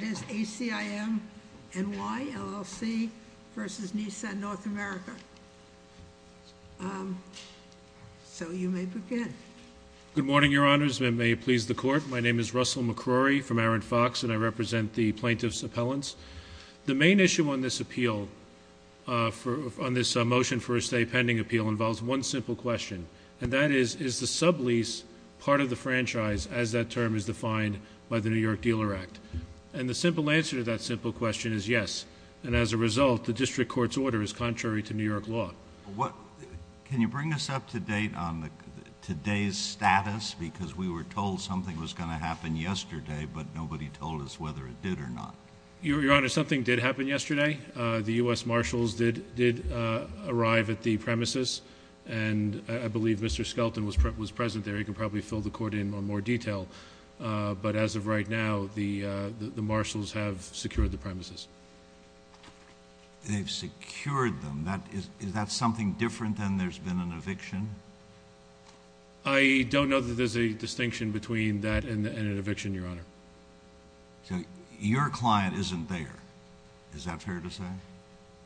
Good morning, Your Honors. May it please the Court, my name is Russell McCrory from Aaron Fox and I represent the Plaintiffs' Appellants. The main issue on this motion for a stay pending appeal involves one simple question, and that is, is the sublease part of the franchise as that term is defined by the New York Dealer Act? And the simple answer to that simple question is yes, and as a result, the District Court's order is contrary to New York law. Can you bring us up to date on today's status? Because we were told something was going to happen yesterday, but nobody told us whether it did or not. Your Honor, something did happen yesterday. The U.S. Marshals did arrive at the premises, and I believe Mr. Skelton was present there. He can probably fill the Court in on more detail, but as of right now, the Marshals have secured the premises. They've secured them. Is that something different than there's been an eviction? I don't know that there's a distinction between that and an eviction, Your Honor. So your client isn't there. Is that fair to say?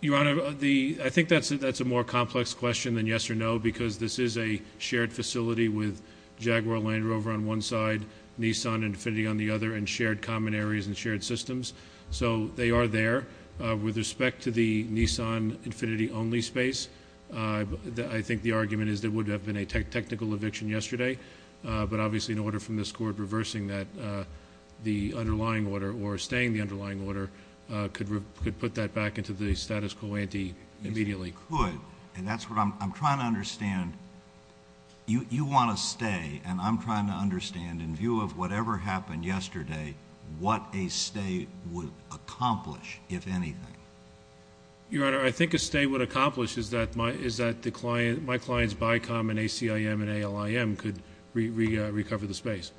Your Honor, I think that's a more complex question than yes or no, because this is a shared facility with Jaguar Land Rover on one side, Nissan Infiniti on the other, and shared common areas and shared systems, so they are there. With respect to the Nissan Infiniti-only space, I think the argument is there would have been a technical eviction yesterday, but obviously an order from this Court reversing the underlying order or staying the underlying order could put that back into the status quo ante immediately. Yes, it could, and that's what I'm trying to understand. You want to stay, and I'm trying to understand, in view of whatever happened yesterday, what a stay would accomplish, if anything. Your Honor, I think a stay would accomplish is that my client's BICOM and ACIM and ALIM could recover the space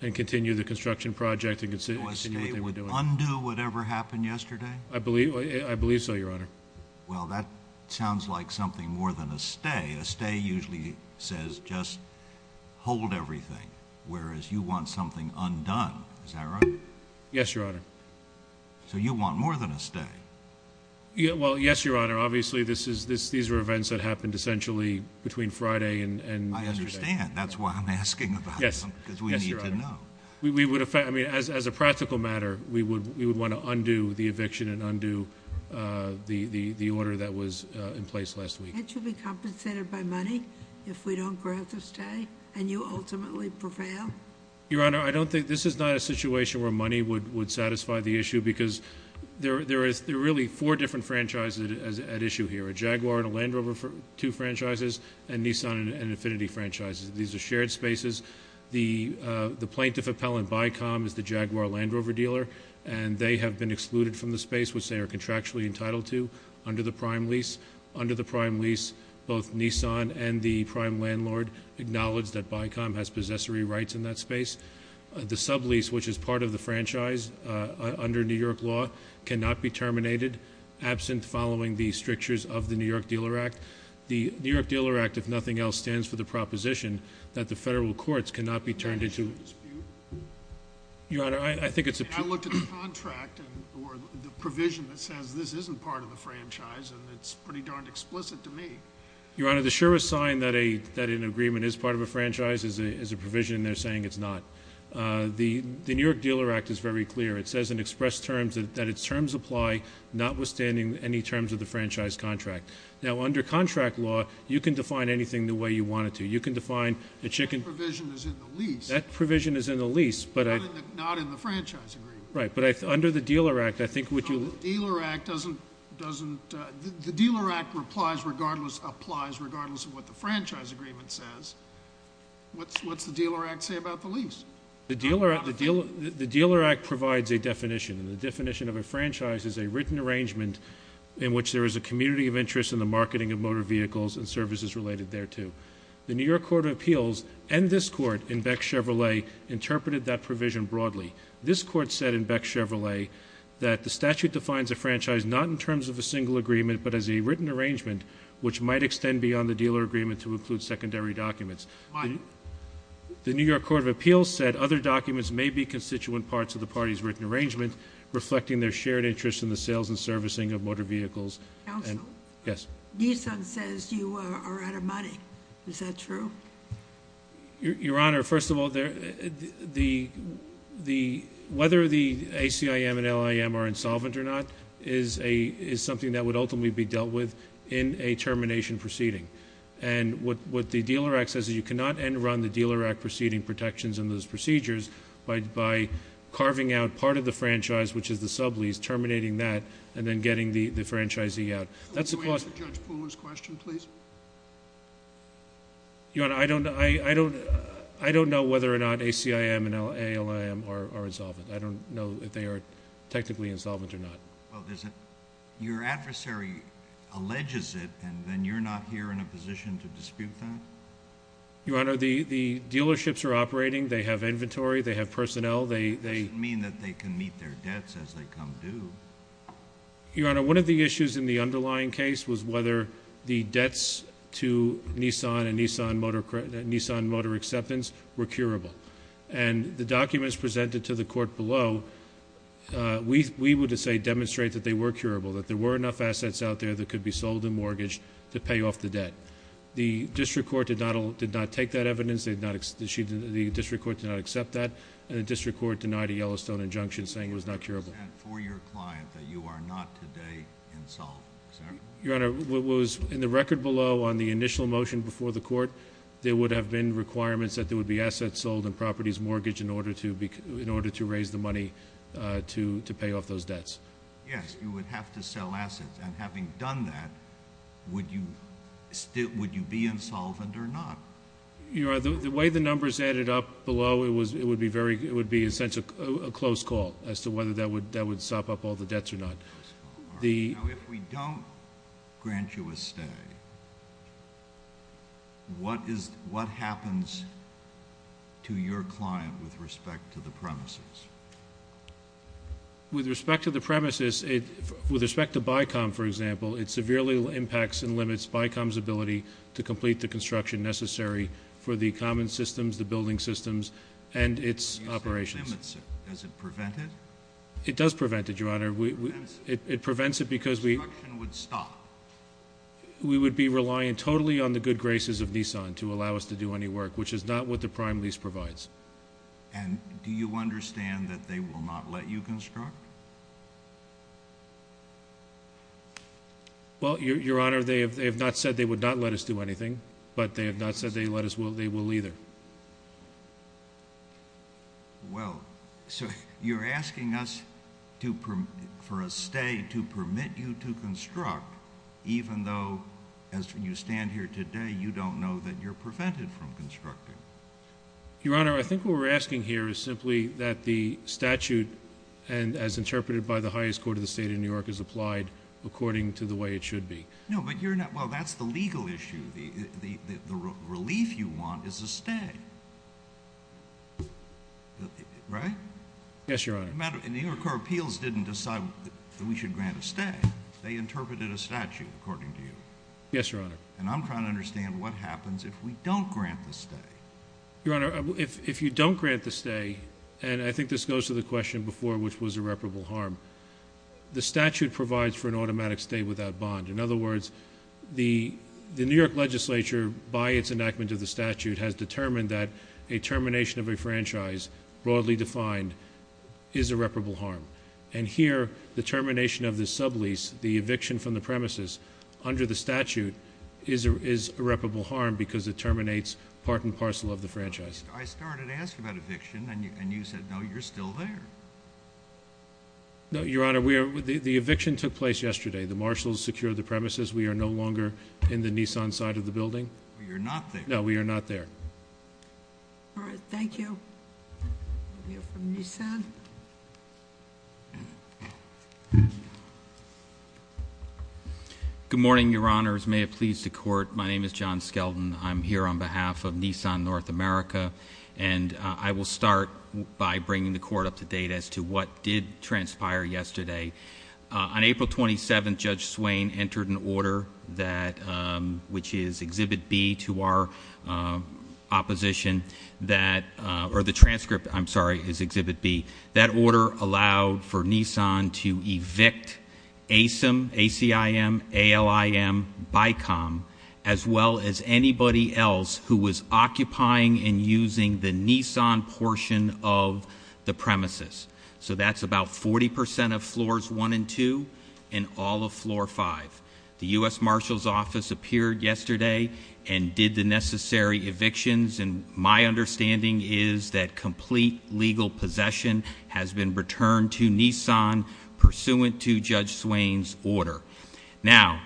and continue the construction project and continue what they were doing. So a stay would undo whatever happened yesterday? I believe so, Your Honor. Well, that sounds like something more than a stay. A stay usually says just hold everything, whereas you want something undone. Is that right? Yes, Your Honor. So you want more than a stay? Well, yes, Your Honor. Obviously, these were events that happened essentially between Friday and yesterday. I understand. That's why I'm asking about them, because we need to know. Yes, Your Honor. As a practical matter, we would want to undo the eviction and undo the order that was in place last week. Can't you be compensated by money if we don't grant the stay and you ultimately prevail? Your Honor, I don't think this is not a situation where money would satisfy the issue, because there are really four different franchises at issue here, a Jaguar and a Land Rover, two franchises, and Nissan and Infinity franchises. These are shared spaces. The plaintiff appellant, BICOM, is the Jaguar-Land Rover dealer, and they have been excluded from the space, which they are contractually entitled to, under the prime lease. Both Nissan and the prime landlord acknowledge that BICOM has possessory rights in that space. The sublease, which is part of the franchise under New York law, cannot be terminated, absent following the strictures of the New York Dealer Act. The New York Dealer Act, if nothing else, stands for the proposition that the federal courts cannot be turned into a dispute. Your Honor, I think it's a— I looked at the contract or the provision that says this isn't part of the franchise, and it's pretty darned explicit to me. Your Honor, the surest sign that an agreement is part of a franchise is a provision, and they're saying it's not. The New York Dealer Act is very clear. It says in expressed terms that its terms apply, notwithstanding any terms of the franchise contract. Now, under contract law, you can define anything the way you want it to. You can define a chicken— That provision is in the lease. That provision is in the lease, but I— Not in the franchise agreement. Right, but under the Dealer Act, I think what you— No, the Dealer Act doesn't—the Dealer Act applies regardless of what the franchise agreement says. What's the Dealer Act say about the lease? The Dealer Act provides a definition, and the definition of a franchise is a written arrangement in which there is a community of interest in the marketing of motor vehicles and services related thereto. The New York Court of Appeals and this Court in Beck Chevrolet interpreted that provision broadly. This Court said in Beck Chevrolet that the statute defines a franchise not in terms of a single agreement but as a written arrangement, which might extend beyond the dealer agreement to include secondary documents. Why? The New York Court of Appeals said other documents may be constituent parts of the party's written arrangement, reflecting their shared interest in the sales and servicing of motor vehicles. Counsel? Yes. Nissan says you are out of money. Is that true? Your Honor, first of all, whether the ACIM and LIM are insolvent or not is something that would ultimately be dealt with in a termination proceeding. And what the Dealer Act says is you cannot end-run the Dealer Act proceeding protections and those procedures by carving out part of the franchise, which is the sublease, terminating that, and then getting the franchisee out. Could you answer Judge Pooler's question, please? Your Honor, I don't know whether or not ACIM and LIM are insolvent. I don't know if they are technically insolvent or not. Well, your adversary alleges it, and then you're not here in a position to dispute that? Your Honor, the dealerships are operating. They have inventory. They have personnel. That doesn't mean that they can meet their debts as they come due. Your Honor, one of the issues in the underlying case was whether the debts to Nissan and Nissan Motor Acceptance were curable. And the documents presented to the court below, we would say demonstrate that they were curable, that there were enough assets out there that could be sold in mortgage to pay off the debt. The district court did not take that evidence. The district court did not accept that. And the district court denied a Yellowstone injunction saying it was not curable. Why is that for your client that you are not today insolvent, sir? Your Honor, what was in the record below on the initial motion before the court, there would have been requirements that there would be assets sold in properties mortgage in order to raise the money to pay off those debts. Yes, you would have to sell assets. And having done that, would you be insolvent or not? Your Honor, the way the numbers added up below, it would be, in a sense, a close call as to whether that would sop up all the debts or not. Your Honor, if we don't grant you a stay, what happens to your client with respect to the premises? With respect to the premises, with respect to BICOM, for example, it severely impacts and limits BICOM's ability to complete the construction necessary for the common systems, the building systems, and its operations. You say it limits it. Does it prevent it? It does prevent it, Your Honor. It prevents it because the construction would stop. We would be relying totally on the good graces of Nissan to allow us to do any work, which is not what the prime lease provides. And do you understand that they will not let you construct? Well, Your Honor, they have not said they would not let us do anything, but they have not said they will either. Well, so you're asking us for a stay to permit you to construct, even though, as you stand here today, you don't know that you're prevented from constructing. Your Honor, I think what we're asking here is simply that the statute, as interpreted by the highest court of the state of New York, is applied according to the way it should be. No, but you're not—well, that's the legal issue. The relief you want is a stay, right? Yes, Your Honor. And the New York Court of Appeals didn't decide that we should grant a stay. They interpreted a statute according to you. Yes, Your Honor. And I'm trying to understand what happens if we don't grant the stay. Your Honor, if you don't grant the stay, and I think this goes to the question before, which was irreparable harm, the statute provides for an automatic stay without bond. In other words, the New York legislature, by its enactment of the statute, has determined that a termination of a franchise, broadly defined, is irreparable harm. And here, the termination of the sublease, the eviction from the premises, under the statute, is irreparable harm because it terminates part and parcel of the franchise. I started asking about eviction, and you said, no, you're still there. No, Your Honor, the eviction took place yesterday. The marshals secured the premises. We are no longer in the Nissan side of the building. You're not there. No, we are not there. All right. Thank you. We have from Nissan. Good morning, Your Honors. May it please the Court. My name is John Skelton. I'm here on behalf of Nissan North America, and I will start by bringing the Court up to date as to what did transpire yesterday. On April 27th, Judge Swain entered an order, which is Exhibit B to our opposition, or the transcript, I'm sorry, is Exhibit B. That order allowed for Nissan to evict ASIM, A-C-I-M, A-L-I-M, BICOM, as well as anybody else who was occupying and using the Nissan portion of the premises. So that's about 40 percent of Floors 1 and 2 and all of Floor 5. The U.S. Marshals Office appeared yesterday and did the necessary evictions, and my understanding is that complete legal possession has been returned to Nissan, pursuant to Judge Swain's order. Now,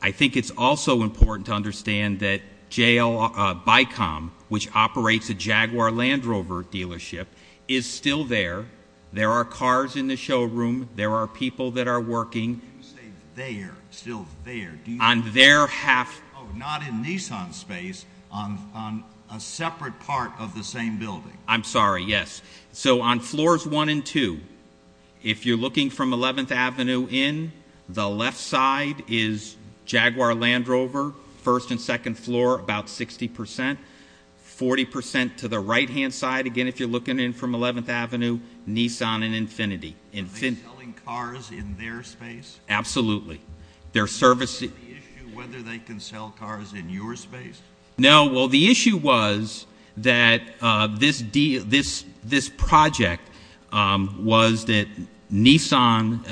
I think it's also important to understand that BICOM, which operates a Jaguar Land Rover dealership, is still there. There are cars in the showroom. There are people that are working. You say there, still there. On their half. Oh, not in Nissan's space, on a separate part of the same building. I'm sorry, yes. So on Floors 1 and 2, if you're looking from 11th Avenue in, the left side is Jaguar Land Rover, 1st and 2nd Floor, about 60 percent. Forty percent to the right-hand side, again, if you're looking in from 11th Avenue, Nissan and Infinity. Are they selling cars in their space? Absolutely. Is that the issue, whether they can sell cars in your space? No, well, the issue was that this project was that Nissan,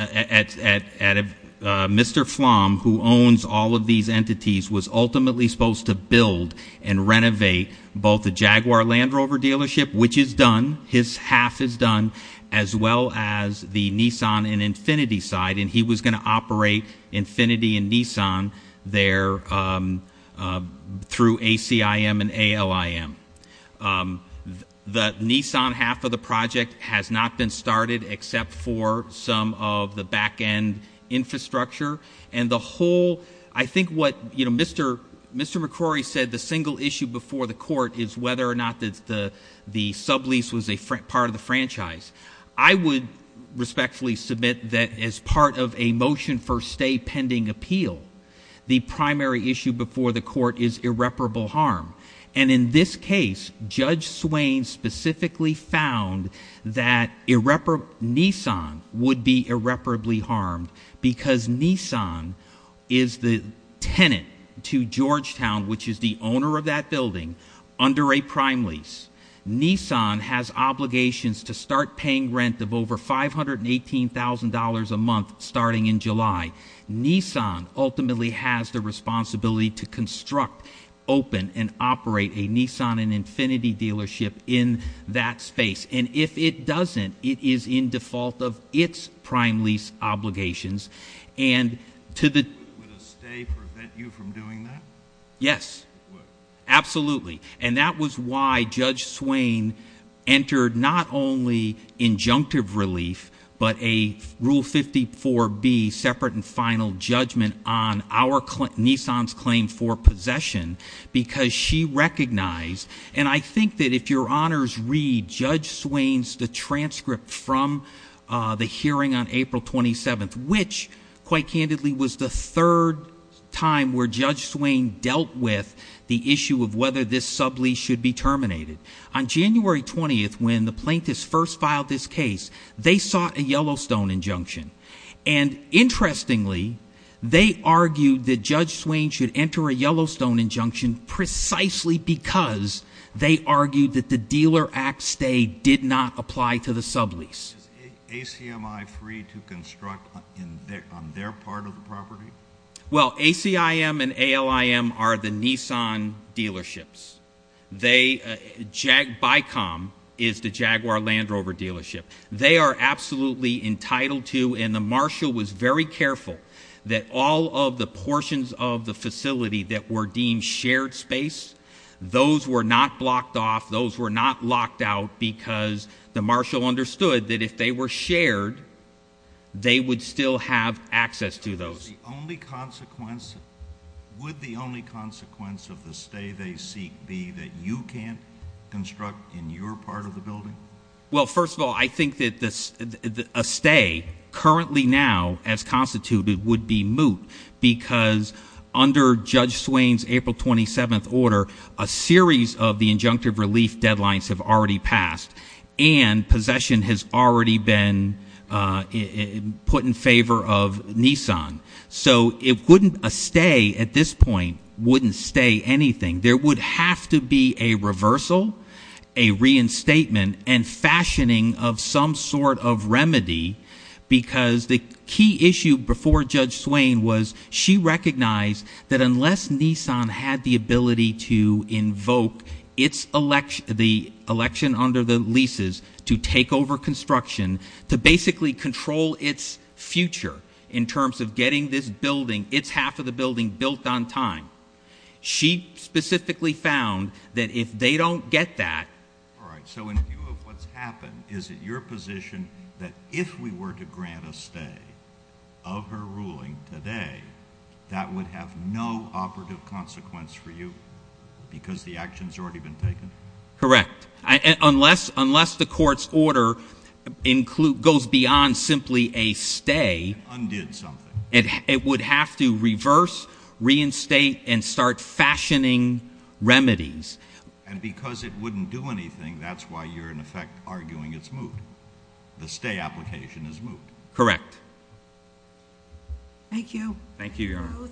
Mr. Flom, who owns all of these entities, was ultimately supposed to build and renovate both the Jaguar Land Rover dealership, which is done, his half is done, as well as the Nissan and Infinity side, and he was going to operate Infinity and Nissan there through ACIM and ALIM. The Nissan half of the project has not been started except for some of the back-end infrastructure, and the whole, I think what Mr. McCrory said, the single issue before the court, is whether or not the sublease was a part of the franchise. I would respectfully submit that as part of a motion for stay pending appeal, the primary issue before the court is irreparable harm, and in this case, Judge Swain specifically found that Nissan would be irreparably harmed because Nissan is the tenant to Georgetown, which is the owner of that building, under a prime lease. Nissan has obligations to start paying rent of over $518,000 a month starting in July. Nissan ultimately has the responsibility to construct, open, and operate a Nissan and Infinity dealership in that space, and if it doesn't, it is in default of its prime lease obligations, and to the… Would a stay prevent you from doing that? Yes. It would. Absolutely. And that was why Judge Swain entered not only injunctive relief, but a Rule 54B separate and final judgment on our Nissan's claim for possession, because she recognized, and I think that if your honors read Judge Swain's transcript from the hearing on April 27th, which, quite candidly, was the third time where Judge Swain dealt with the issue of whether this sublease should be terminated. On January 20th, when the plaintiffs first filed this case, they sought a Yellowstone injunction, and interestingly, they argued that Judge Swain should enter a Yellowstone injunction precisely because they argued that the Dealer Act stay did not apply to the sublease. Is ACMI free to construct on their part of the property? Well, ACIM and ALIM are the Nissan dealerships. BICOM is the Jaguar Land Rover dealership. They are absolutely entitled to, and the marshal was very careful, that all of the portions of the facility that were deemed shared space, those were not blocked off, those were not locked out, because the marshal understood that if they were shared, they would still have access to those. Would the only consequence of the stay they seek be that you can't construct in your part of the building? Well, first of all, I think that a stay, currently now, as constituted, would be moot, because under Judge Swain's April 27th order, a series of the injunctive relief deadlines have already passed, and possession has already been put in favor of Nissan. So a stay, at this point, wouldn't stay anything. There would have to be a reversal, a reinstatement, and fashioning of some sort of remedy, because the key issue before Judge Swain was she recognized that unless Nissan had the ability to invoke the election under the leases to take over construction, to basically control its future in terms of getting this building, its half of the building, built on time, she specifically found that if they don't get that... If we were to grant a stay of her ruling today, that would have no operative consequence for you, because the action has already been taken? Correct. Unless the court's order goes beyond simply a stay... And undid something. It would have to reverse, reinstate, and start fashioning remedies. And because it wouldn't do anything, that's why you're, in effect, arguing it's moot. The stay application is moot. Correct. Thank you. Thank you, Your Honor.